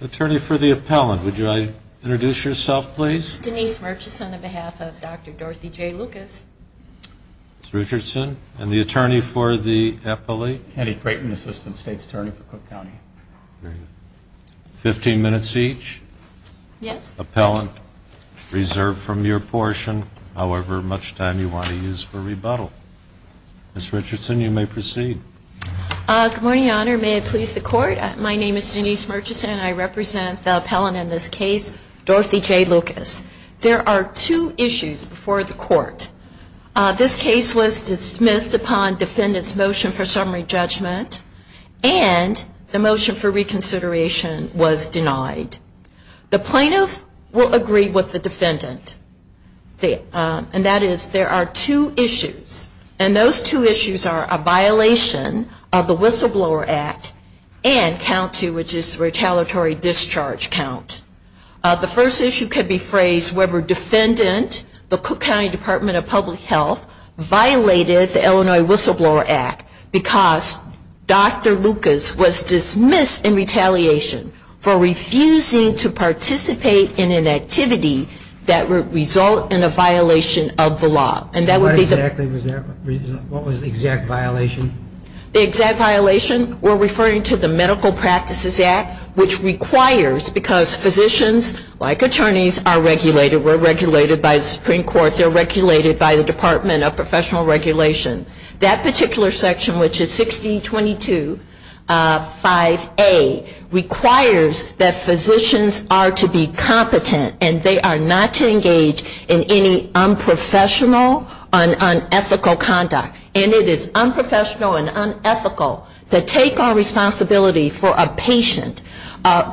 Attorney for the appellant, would you introduce yourself please? Denise Murchison on behalf of Dr. Dorothy J. Lucas Ms. Richardson, and the attorney for the appellate? Andy Creighton, Assistant State's Attorney for Cook County. Very good. Fifteen minutes each. Yes. Appellant, reserve from your portion however much time you want to use for rebuttal. Ms. Richardson, you may proceed. Good morning, Your Honor. May it please the Court? My name is Denise Murchison and I represent the appellant in this case, Dorothy J. Lucas. There are two issues before the Court. This case was dismissed upon defendant's motion for summary judgment, and the motion for reconsideration was denied. The plaintiff will agree with the defendant, and that is there are two issues, and those two issues are a violation of the Whistleblower Act and count two, which is retaliatory discharge count. The first issue could be phrased whether defendant, the Cook County Department of Public Health, violated the Illinois Whistleblower Act because Dr. Lucas was dismissed in retaliation for refusing to participate in an activity that would result in a violation of the law. What was the exact violation? The exact violation, we're referring to the Medical Practices Act, which requires, because physicians, like attorneys, are regulated. We're regulated by the Supreme Court. They're regulated by the Department of Professional Regulation. That particular section, which is 1622 5A, requires that physicians are to be competent and they are not to engage in any unprofessional and unethical conduct. And it is unprofessional and unethical to take on responsibility for a patient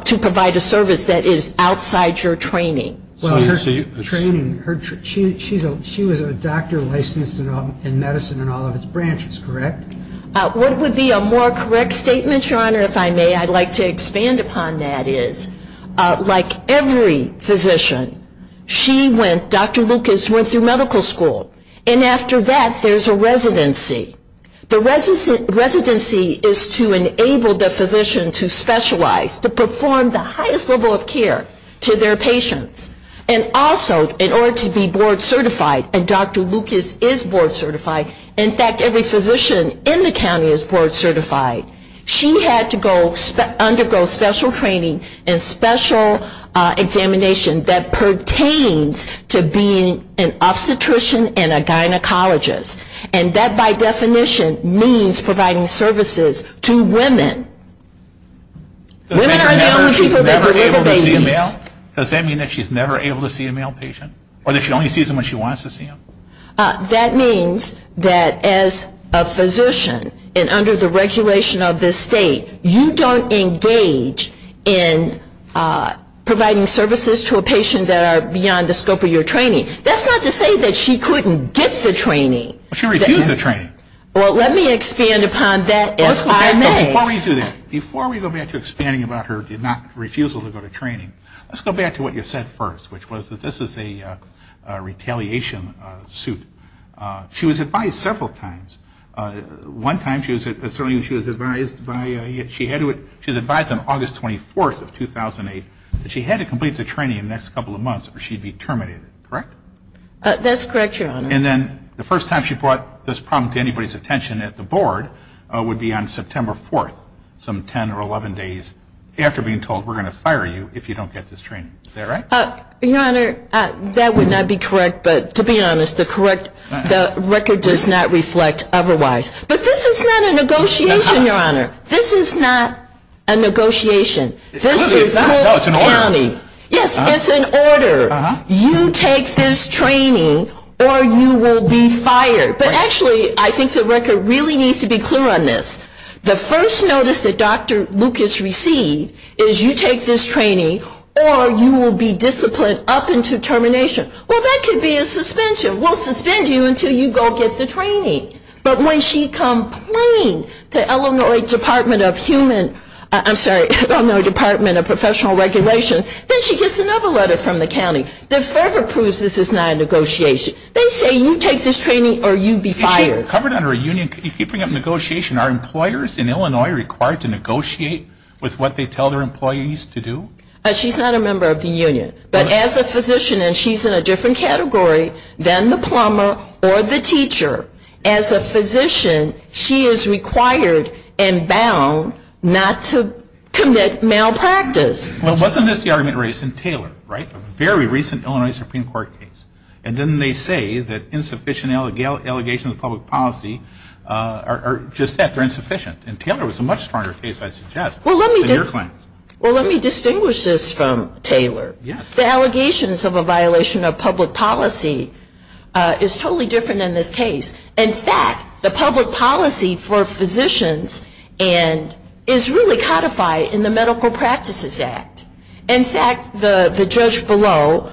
to provide a service that is outside your training. Well, her training, she was a doctor licensed in medicine in all of its branches, correct? What would be a more correct statement, Your Honor, if I may, I'd like to expand upon that, is like every physician, she went, Dr. Lucas went through medical school, and after that there's a residency. The residency is to enable the physician to specialize, to perform the highest level of care to their patients. And also, in order to be board certified, and Dr. Lucas is board certified, in fact, every physician in the county is board certified, she had to undergo special training and special examination that pertains to being an obstetrician and a gynecologist. And that, by definition, means providing services to women. Women are the only people that deliver babies. Does that mean that she's never able to see a male patient? Or that she only sees them when she wants to see them? That means that as a physician, and under the regulation of this state, you don't engage in providing services to a patient that are beyond the scope of your training. That's not to say that she couldn't get the training. She refused the training. Well, let me expand upon that, if I may. Before we do that, before we go back to expanding about her refusal to go to training, let's go back to what you said first, which was that this is a retaliation suit. She was advised several times. One time she was advised on August 24th of 2008 that she had to complete the training in the next couple of months or she'd be terminated. Correct? That's correct, Your Honor. And then the first time she brought this problem to anybody's attention at the board would be on September 4th, some 10 or 11 days after being told we're going to fire you if you don't get this training. Is that right? Your Honor, that would not be correct. But to be honest, the record does not reflect otherwise. But this is not a negotiation, Your Honor. This is not a negotiation. No, it's an order. Yes, it's an order. You take this training or you will be fired. But actually, I think the record really needs to be clear on this. The first notice that Dr. Lucas received is you take this training or you will be disciplined up until termination. Well, that could be a suspension. We'll suspend you until you go get the training. But when she complained to Illinois Department of Human, I'm sorry, Illinois Department of Professional Regulation, then she gets another letter from the county that further proves this is not a negotiation. They say you take this training or you be fired. Is she covered under a union? If you bring up negotiation, are employers in Illinois required to negotiate with what they tell their employees to do? She's not a member of the union. But as a physician, and she's in a different category than the plumber or the teacher, as a physician, she is required and bound not to commit malpractice. Well, wasn't this the argument raised in Taylor, right? A very recent Illinois Supreme Court case. And then they say that insufficient allegations of public policy are just that, they're insufficient. And Taylor was a much stronger case, I suggest, than your claim. Well, let me distinguish this from Taylor. The allegations of a violation of public policy is totally different in this case. In fact, the public policy for physicians is really codified in the Medical Practices Act. In fact, the judge below,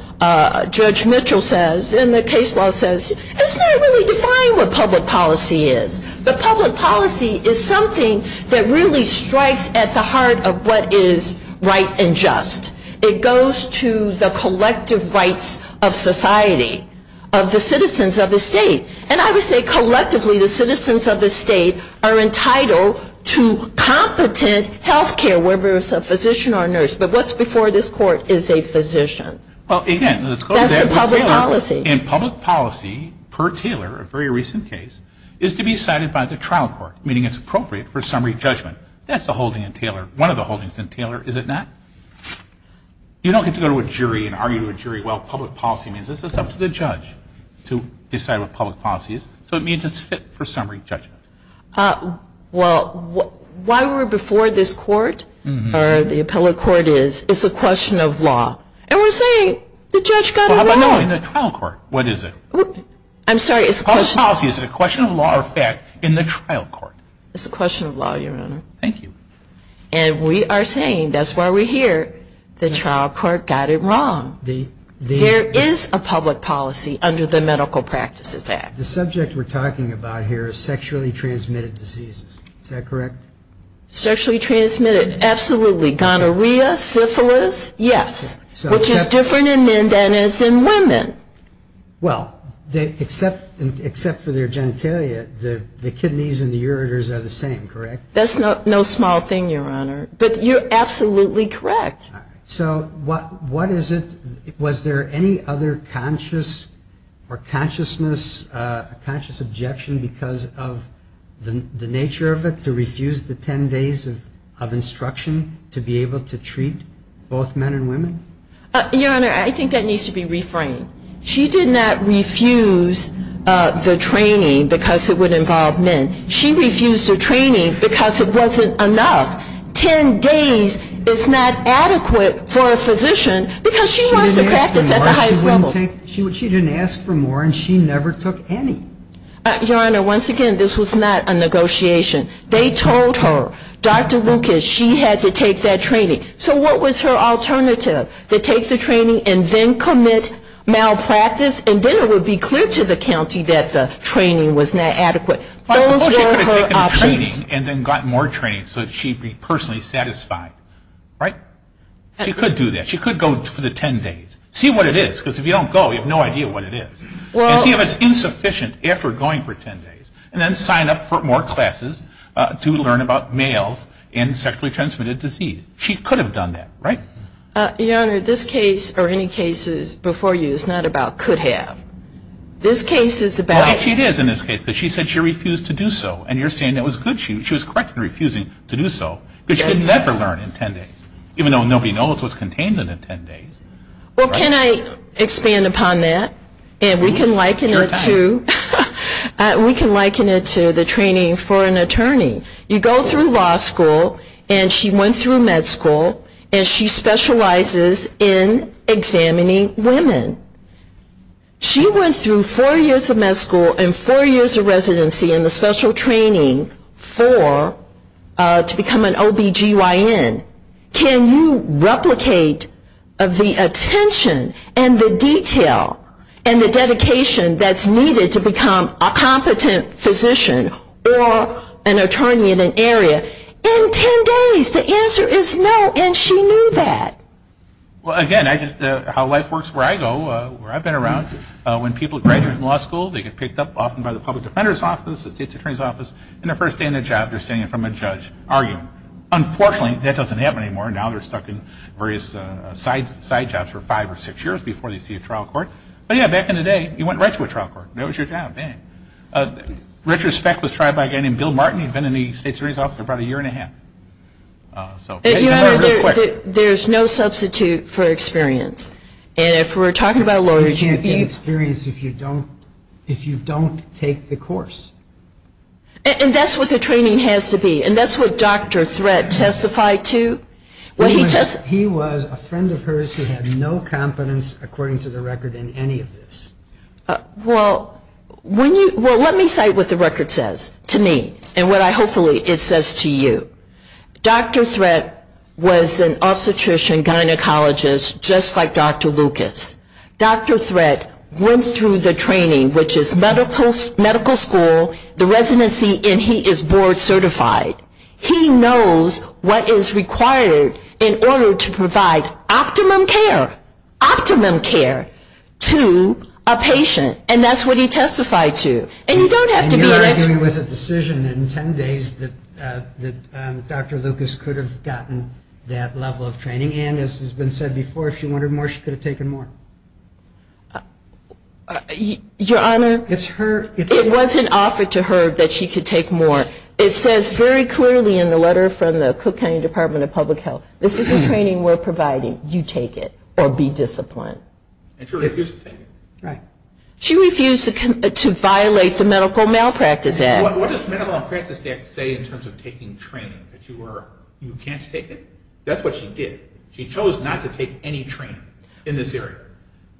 Judge Mitchell says, in the case law says, it's not really defined what public policy is. But public policy is something that really strikes at the heart of what is right and just. It goes to the collective rights of society, of the citizens of the state. And I would say collectively the citizens of the state are entitled to competent health care, whether it's a physician or a nurse. But what's before this court is a physician. That's the public policy. And public policy, per Taylor, a very recent case, is to be cited by the trial court, meaning it's appropriate for summary judgment. That's the holding in Taylor, one of the holdings in Taylor, is it not? You don't get to go to a jury and argue to a jury. Well, public policy means it's up to the judge to decide what public policy is. So it means it's fit for summary judgment. Well, why we're before this court or the appellate court is, it's a question of law. And we're saying the judge got it wrong. Well, how about now in the trial court? What is it? I'm sorry, it's a question of law. Public policy, is it a question of law or fact in the trial court? It's a question of law, Your Honor. Thank you. And we are saying, that's why we're here, the trial court got it wrong. There is a public policy under the Medical Practices Act. The subject we're talking about here is sexually transmitted diseases. Is that correct? Sexually transmitted, absolutely. Gonorrhea, syphilis, yes. Which is different in men than it is in women. Well, except for their genitalia, the kidneys and the ureters are the same, correct? That's no small thing, Your Honor. But you're absolutely correct. So what is it? Was there any other conscious or consciousness, conscious objection because of the nature of it, to refuse the ten days of instruction to be able to treat both men and women? Your Honor, I think that needs to be reframed. She did not refuse the training because it would involve men. She refused the training because it wasn't enough. Ten days is not adequate for a physician because she wants to practice at the highest level. She didn't ask for more and she never took any. Your Honor, once again, this was not a negotiation. They told her, Dr. Lucas, she had to take that training. So what was her alternative? To take the training and then commit malpractice? And then it would be clear to the county that the training was not adequate. Those were her options. I suppose she could have taken the training and then gotten more training so that she'd be personally satisfied. Right? She could do that. She could go for the ten days. See what it is because if you don't go, you have no idea what it is. And see if it's insufficient after going for ten days. And then sign up for more classes to learn about males and sexually transmitted disease. She could have done that, right? Your Honor, this case or any cases before you is not about could have. This case is about... It is in this case because she said she refused to do so. And you're saying that was good. She was correct in refusing to do so because she could never learn in ten days. Even though nobody knows what's contained in the ten days. Well, can I expand upon that? And we can liken it to the training for an attorney. You go through law school and she went through med school and she specializes in examining women. She went through four years of med school and four years of residency and the special training to become an OBGYN. Can you replicate the attention and the detail and the dedication that's needed to become a competent physician or an attorney in an area in ten days? The answer is no. And she knew that. Well, again, how life works where I go, where I've been around, when people graduate from law school they get picked up often by the public defender's office, the state's attorney's office, and the first day on the job they're standing in front of a judge arguing. Unfortunately, that doesn't happen anymore. Now they're stuck in various side jobs for five or six years before they see a trial court. But, yeah, back in the day you went right to a trial court. That was your job. Retrospect was tried by a guy named Bill Martin. There's no substitute for experience. And if we're talking about lawyers you can't get experience if you don't take the course. And that's what the training has to be. And that's what Dr. Threat testified to. He was a friend of hers who had no competence, according to the record, in any of this. Well, let me cite what the record says to me and what hopefully it says to you. Dr. Threat was an obstetrician gynecologist just like Dr. Lucas. Dr. Threat went through the training, which is medical school, the residency, and he is board certified. He knows what is required in order to provide optimum care, optimum care to a patient. And that's what he testified to. And you're arguing it was a decision in 10 days that Dr. Lucas could have gotten that level of training. And, as has been said before, if she wanted more she could have taken more. Your Honor, it wasn't offered to her that she could take more. It says very clearly in the letter from the Cook County Department of Public Health, this is the training we're providing, you take it or be disciplined. And she refused to take it. She refused to violate the Medical Malpractice Act. What does the Medical Malpractice Act say in terms of taking training? That you can't take it? That's what she did. She chose not to take any training in this area.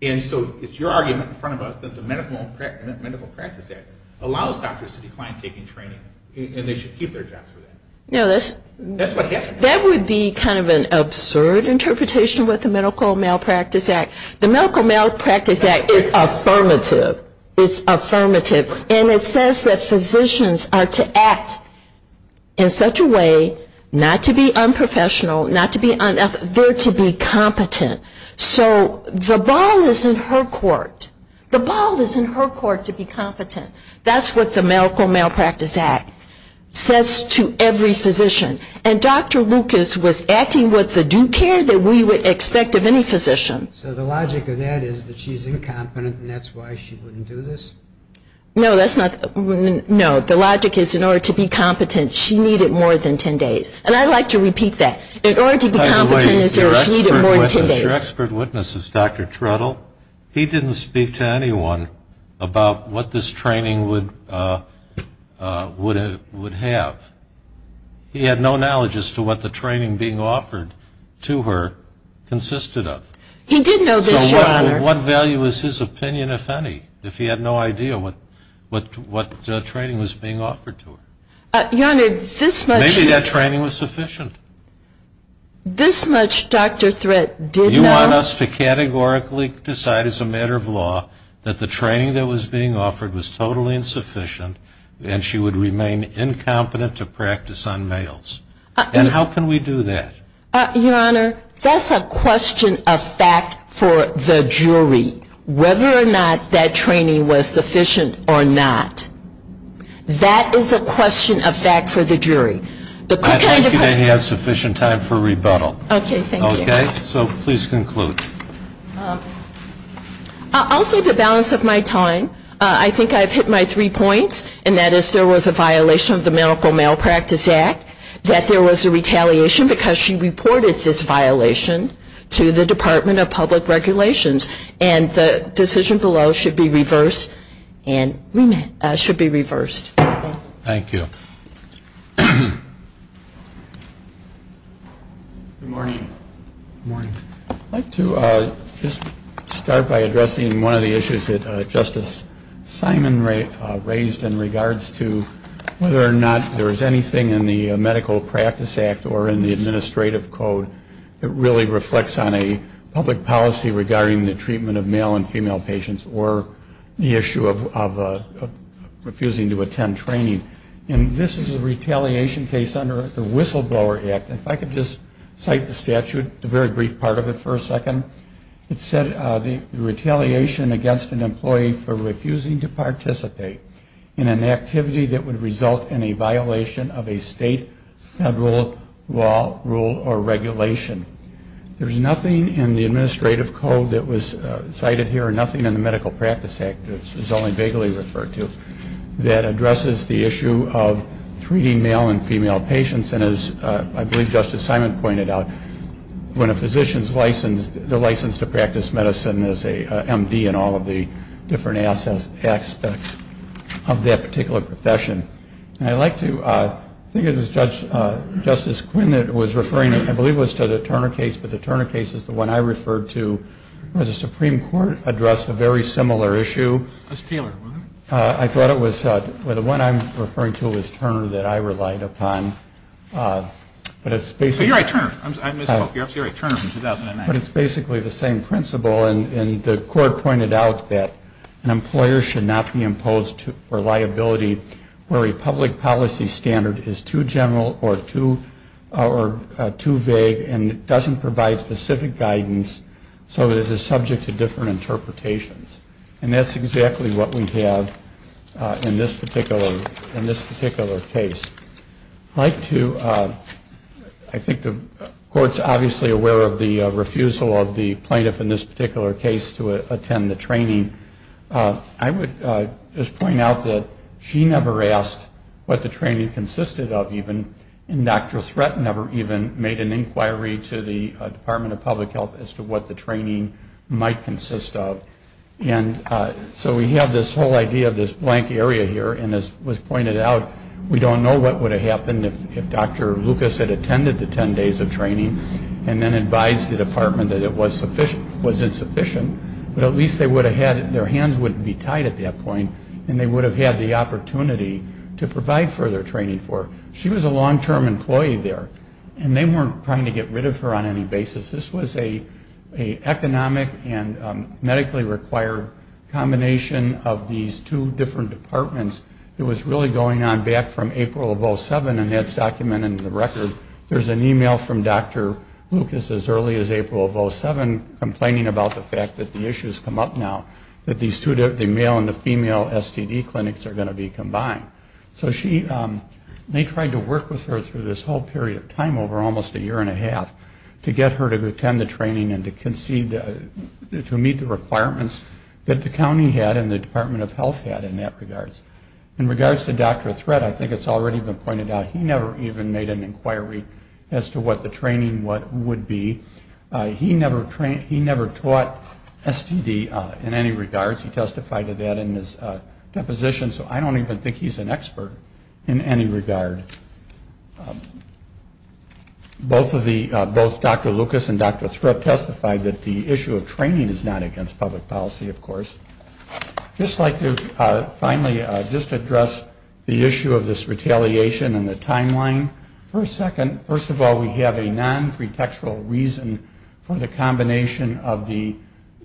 And so it's your argument in front of us that the Medical Malpractice Act allows doctors to decline taking training and they should keep their jobs for that. That's what happened. That would be kind of an absurd interpretation with the Medical Malpractice Act. The Medical Malpractice Act is affirmative. It's affirmative. And it says that physicians are to act in such a way not to be unprofessional, not to be unethical, they're to be competent. So the ball is in her court. The ball is in her court to be competent. That's what the Medical Malpractice Act says to every physician. And Dr. Lucas was acting with the due care that we would expect of any physician. So the logic of that is that she's incompetent and that's why she wouldn't do this? No, that's not the logic. No, the logic is in order to be competent, she needed more than 10 days. And I like to repeat that. In order to be competent, she needed more than 10 days. By the way, your expert witness is Dr. Trudell. He didn't speak to anyone about what this training would have. He had no knowledge as to what the training being offered to her consisted of. He did know this, Your Honor. So what value is his opinion, if any, if he had no idea what training was being offered to her? Your Honor, this much. Maybe that training was sufficient. This much, Dr. Threatt, did know. You want us to categorically decide as a matter of law that the training that was being offered was totally insufficient and she would remain incompetent to practice on males? And how can we do that? Your Honor, that's a question of fact for the jury, whether or not that training was sufficient or not. That is a question of fact for the jury. I think you may have had sufficient time for rebuttal. Okay, thank you. Okay? So please conclude. I'll say the balance of my time. I think I've hit my three points, and that is there was a violation of the Medical Malpractice Act, that there was a retaliation because she reported this violation to the Department of Public Regulations, and the decision below should be reversed. Thank you. Good morning. Good morning. I'd like to just start by addressing one of the issues that Justice Simon raised in regards to whether or not there is anything in the Medical Practice Act or in the Administrative Code that really reflects on a public policy regarding the treatment of male and female patients or the issue of refusing to attend training. And this is a retaliation case under the Whistleblower Act. If I could just cite the statute, the very brief part of it for a second. It said the retaliation against an employee for refusing to participate in an activity that would result in a violation of a state, federal, law, rule, or regulation. There's nothing in the Administrative Code that was cited here and nothing in the Medical Practice Act that's only vaguely referred to that addresses the issue of treating male and female patients. And as I believe Justice Simon pointed out, when a physician is licensed, they're licensed to practice medicine as a MD in all of the different aspects of that particular profession. And I'd like to, I think it was Justice Quinn that was referring, I believe it was to the Turner case, but the Turner case is the one I referred to where the Supreme Court addressed a very similar issue. It was Taylor, wasn't it? I thought it was, well, the one I'm referring to is Turner that I relied upon. But it's basically the same principle, and the court pointed out that an employer should not be imposed for liability where a public policy standard is too general or too vague and doesn't provide specific guidance so that it's subject to different interpretations. And that's exactly what we have in this particular case. I'd like to, I think the Court's obviously aware of the refusal of the plaintiff in this particular case to attend the training. I would just point out that she never asked what the training consisted of even, and Dr. Threat never even made an inquiry to the Department of Public Health as to what the training might consist of. And so we have this whole idea of this blank area here, and as was pointed out, we don't know what would have happened if Dr. Lucas had attended the 10 days of training and then advised the department that it was insufficient. But at least they would have had, their hands wouldn't be tied at that point, and they would have had the opportunity to provide further training for her. She was a long-term employee there, and they weren't trying to get rid of her on any basis. This was an economic and medically required combination of these two different departments. It was really going on back from April of 2007, and that's documented in the record. There's an email from Dr. Lucas as early as April of 2007, complaining about the fact that the issues come up now, that the male and the female STD clinics are going to be combined. So she, they tried to work with her through this whole period of time, over almost a year and a half, to get her to attend the training and to meet the requirements that the county had and the Department of Health had in that regards. In regards to Dr. Threatt, I think it's already been pointed out, he never even made an inquiry as to what the training would be. He never taught STD in any regards. He testified to that in his deposition, so I don't even think he's an expert in any regard. But both Dr. Lucas and Dr. Threatt testified that the issue of training is not against public policy, of course. I'd just like to finally just address the issue of this retaliation and the timeline for a second. First of all, we have a non-pretextual reason for the combination of the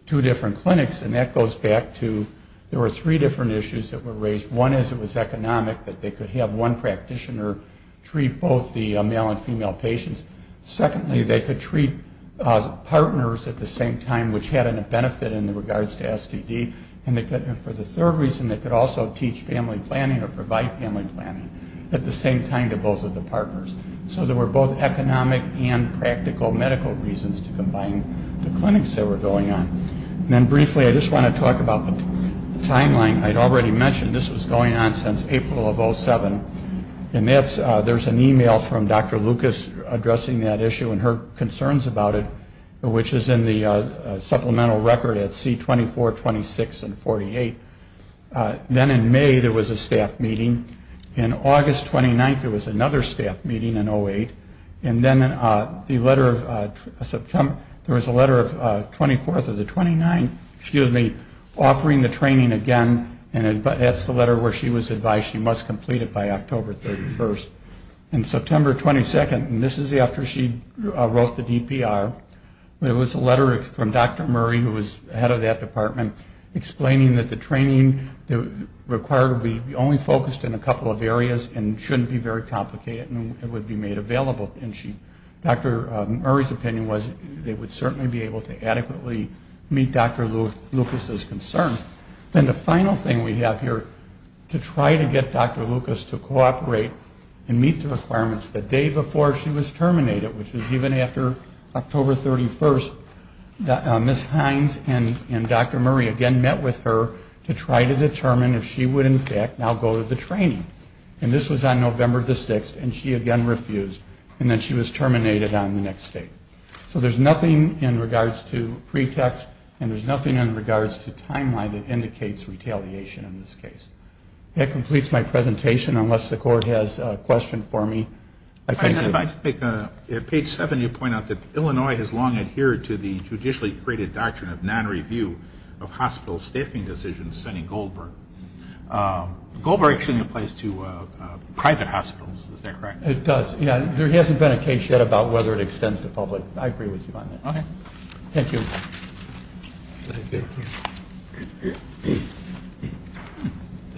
two different clinics, and that goes back to there were three different issues that were raised. One is it was economic, that they could have one practitioner treat both the male and female patients. Secondly, they could treat partners at the same time, which had a benefit in regards to STD. And for the third reason, they could also teach family planning or provide family planning at the same time to both of the partners. So there were both economic and practical medical reasons to combine the clinics that were going on. And then briefly, I just want to talk about the timeline. I'd already mentioned this was going on since April of 2007, and there's an email from Dr. Lucas addressing that issue and her concerns about it, which is in the supplemental record at C-24, 26, and 48. Then in May, there was a staff meeting. In August 29th, there was another staff meeting in 08. And then there was a letter of 24th of the 29th offering the training again, and that's the letter where she was advised she must complete it by October 31st. And September 22nd, and this is after she wrote the DPR, there was a letter from Dr. Murray, who was head of that department, explaining that the training required would be only focused in a couple of areas and shouldn't be very complicated and would be made available. And Dr. Murray's opinion was they would certainly be able to adequately meet Dr. Lucas's concerns. Then the final thing we have here to try to get Dr. Lucas to cooperate and meet the requirements the day before she was terminated, which was even after October 31st, Ms. Hines and Dr. Murray again met with her to try to determine if she would, in fact, now go to the training. And this was on November the 6th, and she again refused, and then she was terminated on the next day. So there's nothing in regards to pretext, and there's nothing in regards to timeline that indicates retaliation in this case. That completes my presentation, unless the Court has a question for me. I'd like to take page 7. You point out that Illinois has long adhered to the judicially created doctrine of non-review of hospital staffing decisions, sending Goldberg. Goldberg actually applies to private hospitals, is that correct? It does, yeah. There hasn't been a case yet about whether it extends to public. I agree with you on that. Okay. Thank you. Thank you.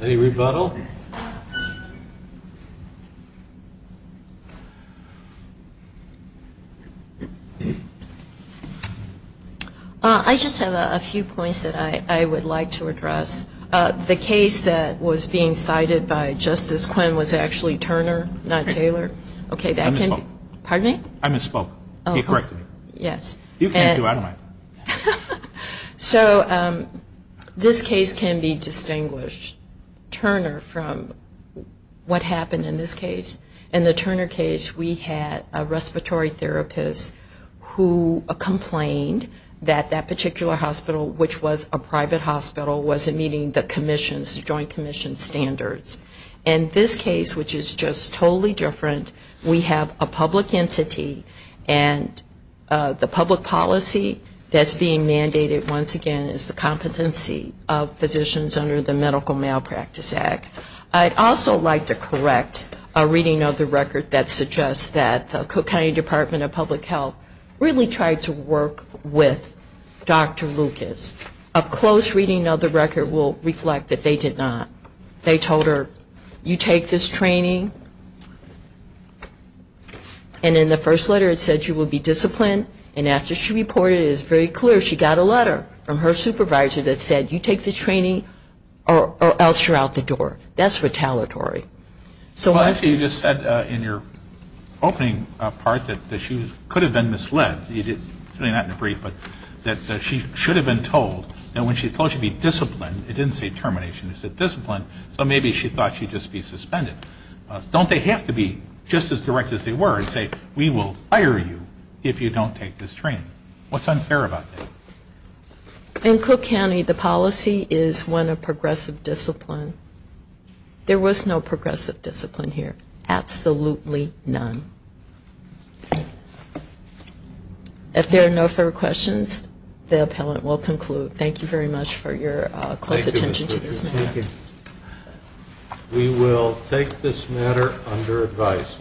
Any rebuttal? I just have a few points that I would like to address. The case that was being cited by Justice Quinn was actually Turner, not Taylor. Okay. I misspoke. Pardon me? I misspoke. Correct me. Yes. You can't do it. I don't mind. So this case can be distinguished, Turner, from what happened in this case. In the Turner case, we had a respiratory therapist who complained that that particular hospital, which was a private hospital, wasn't meeting the Joint Commission standards. In this case, which is just totally different, we have a public entity, and the public policy that's being mandated, once again, is the competency of physicians under the Medical Malpractice Act. I'd also like to correct a reading of the record that suggests that the Cook County Department of Public Health really tried to work with Dr. Lucas. A close reading of the record will reflect that they did not. They told her, you take this training, and in the first letter it said you will be disciplined, and after she reported it, it's very clear she got a letter from her supervisor that said, you take this training or else you're out the door. That's retaliatory. Well, actually, you just said in your opening part that she could have been misled. Not in a brief, but that she should have been told. And when she was told she'd be disciplined, it didn't say termination. It said disciplined, so maybe she thought she'd just be suspended. Don't they have to be just as direct as they were and say, we will fire you if you don't take this training? What's unfair about that? In Cook County, the policy is one of progressive discipline. There was no progressive discipline here. Absolutely none. If there are no further questions, the appellant will conclude. Thank you very much for your close attention to this matter. Thank you. We will take this matter under advice.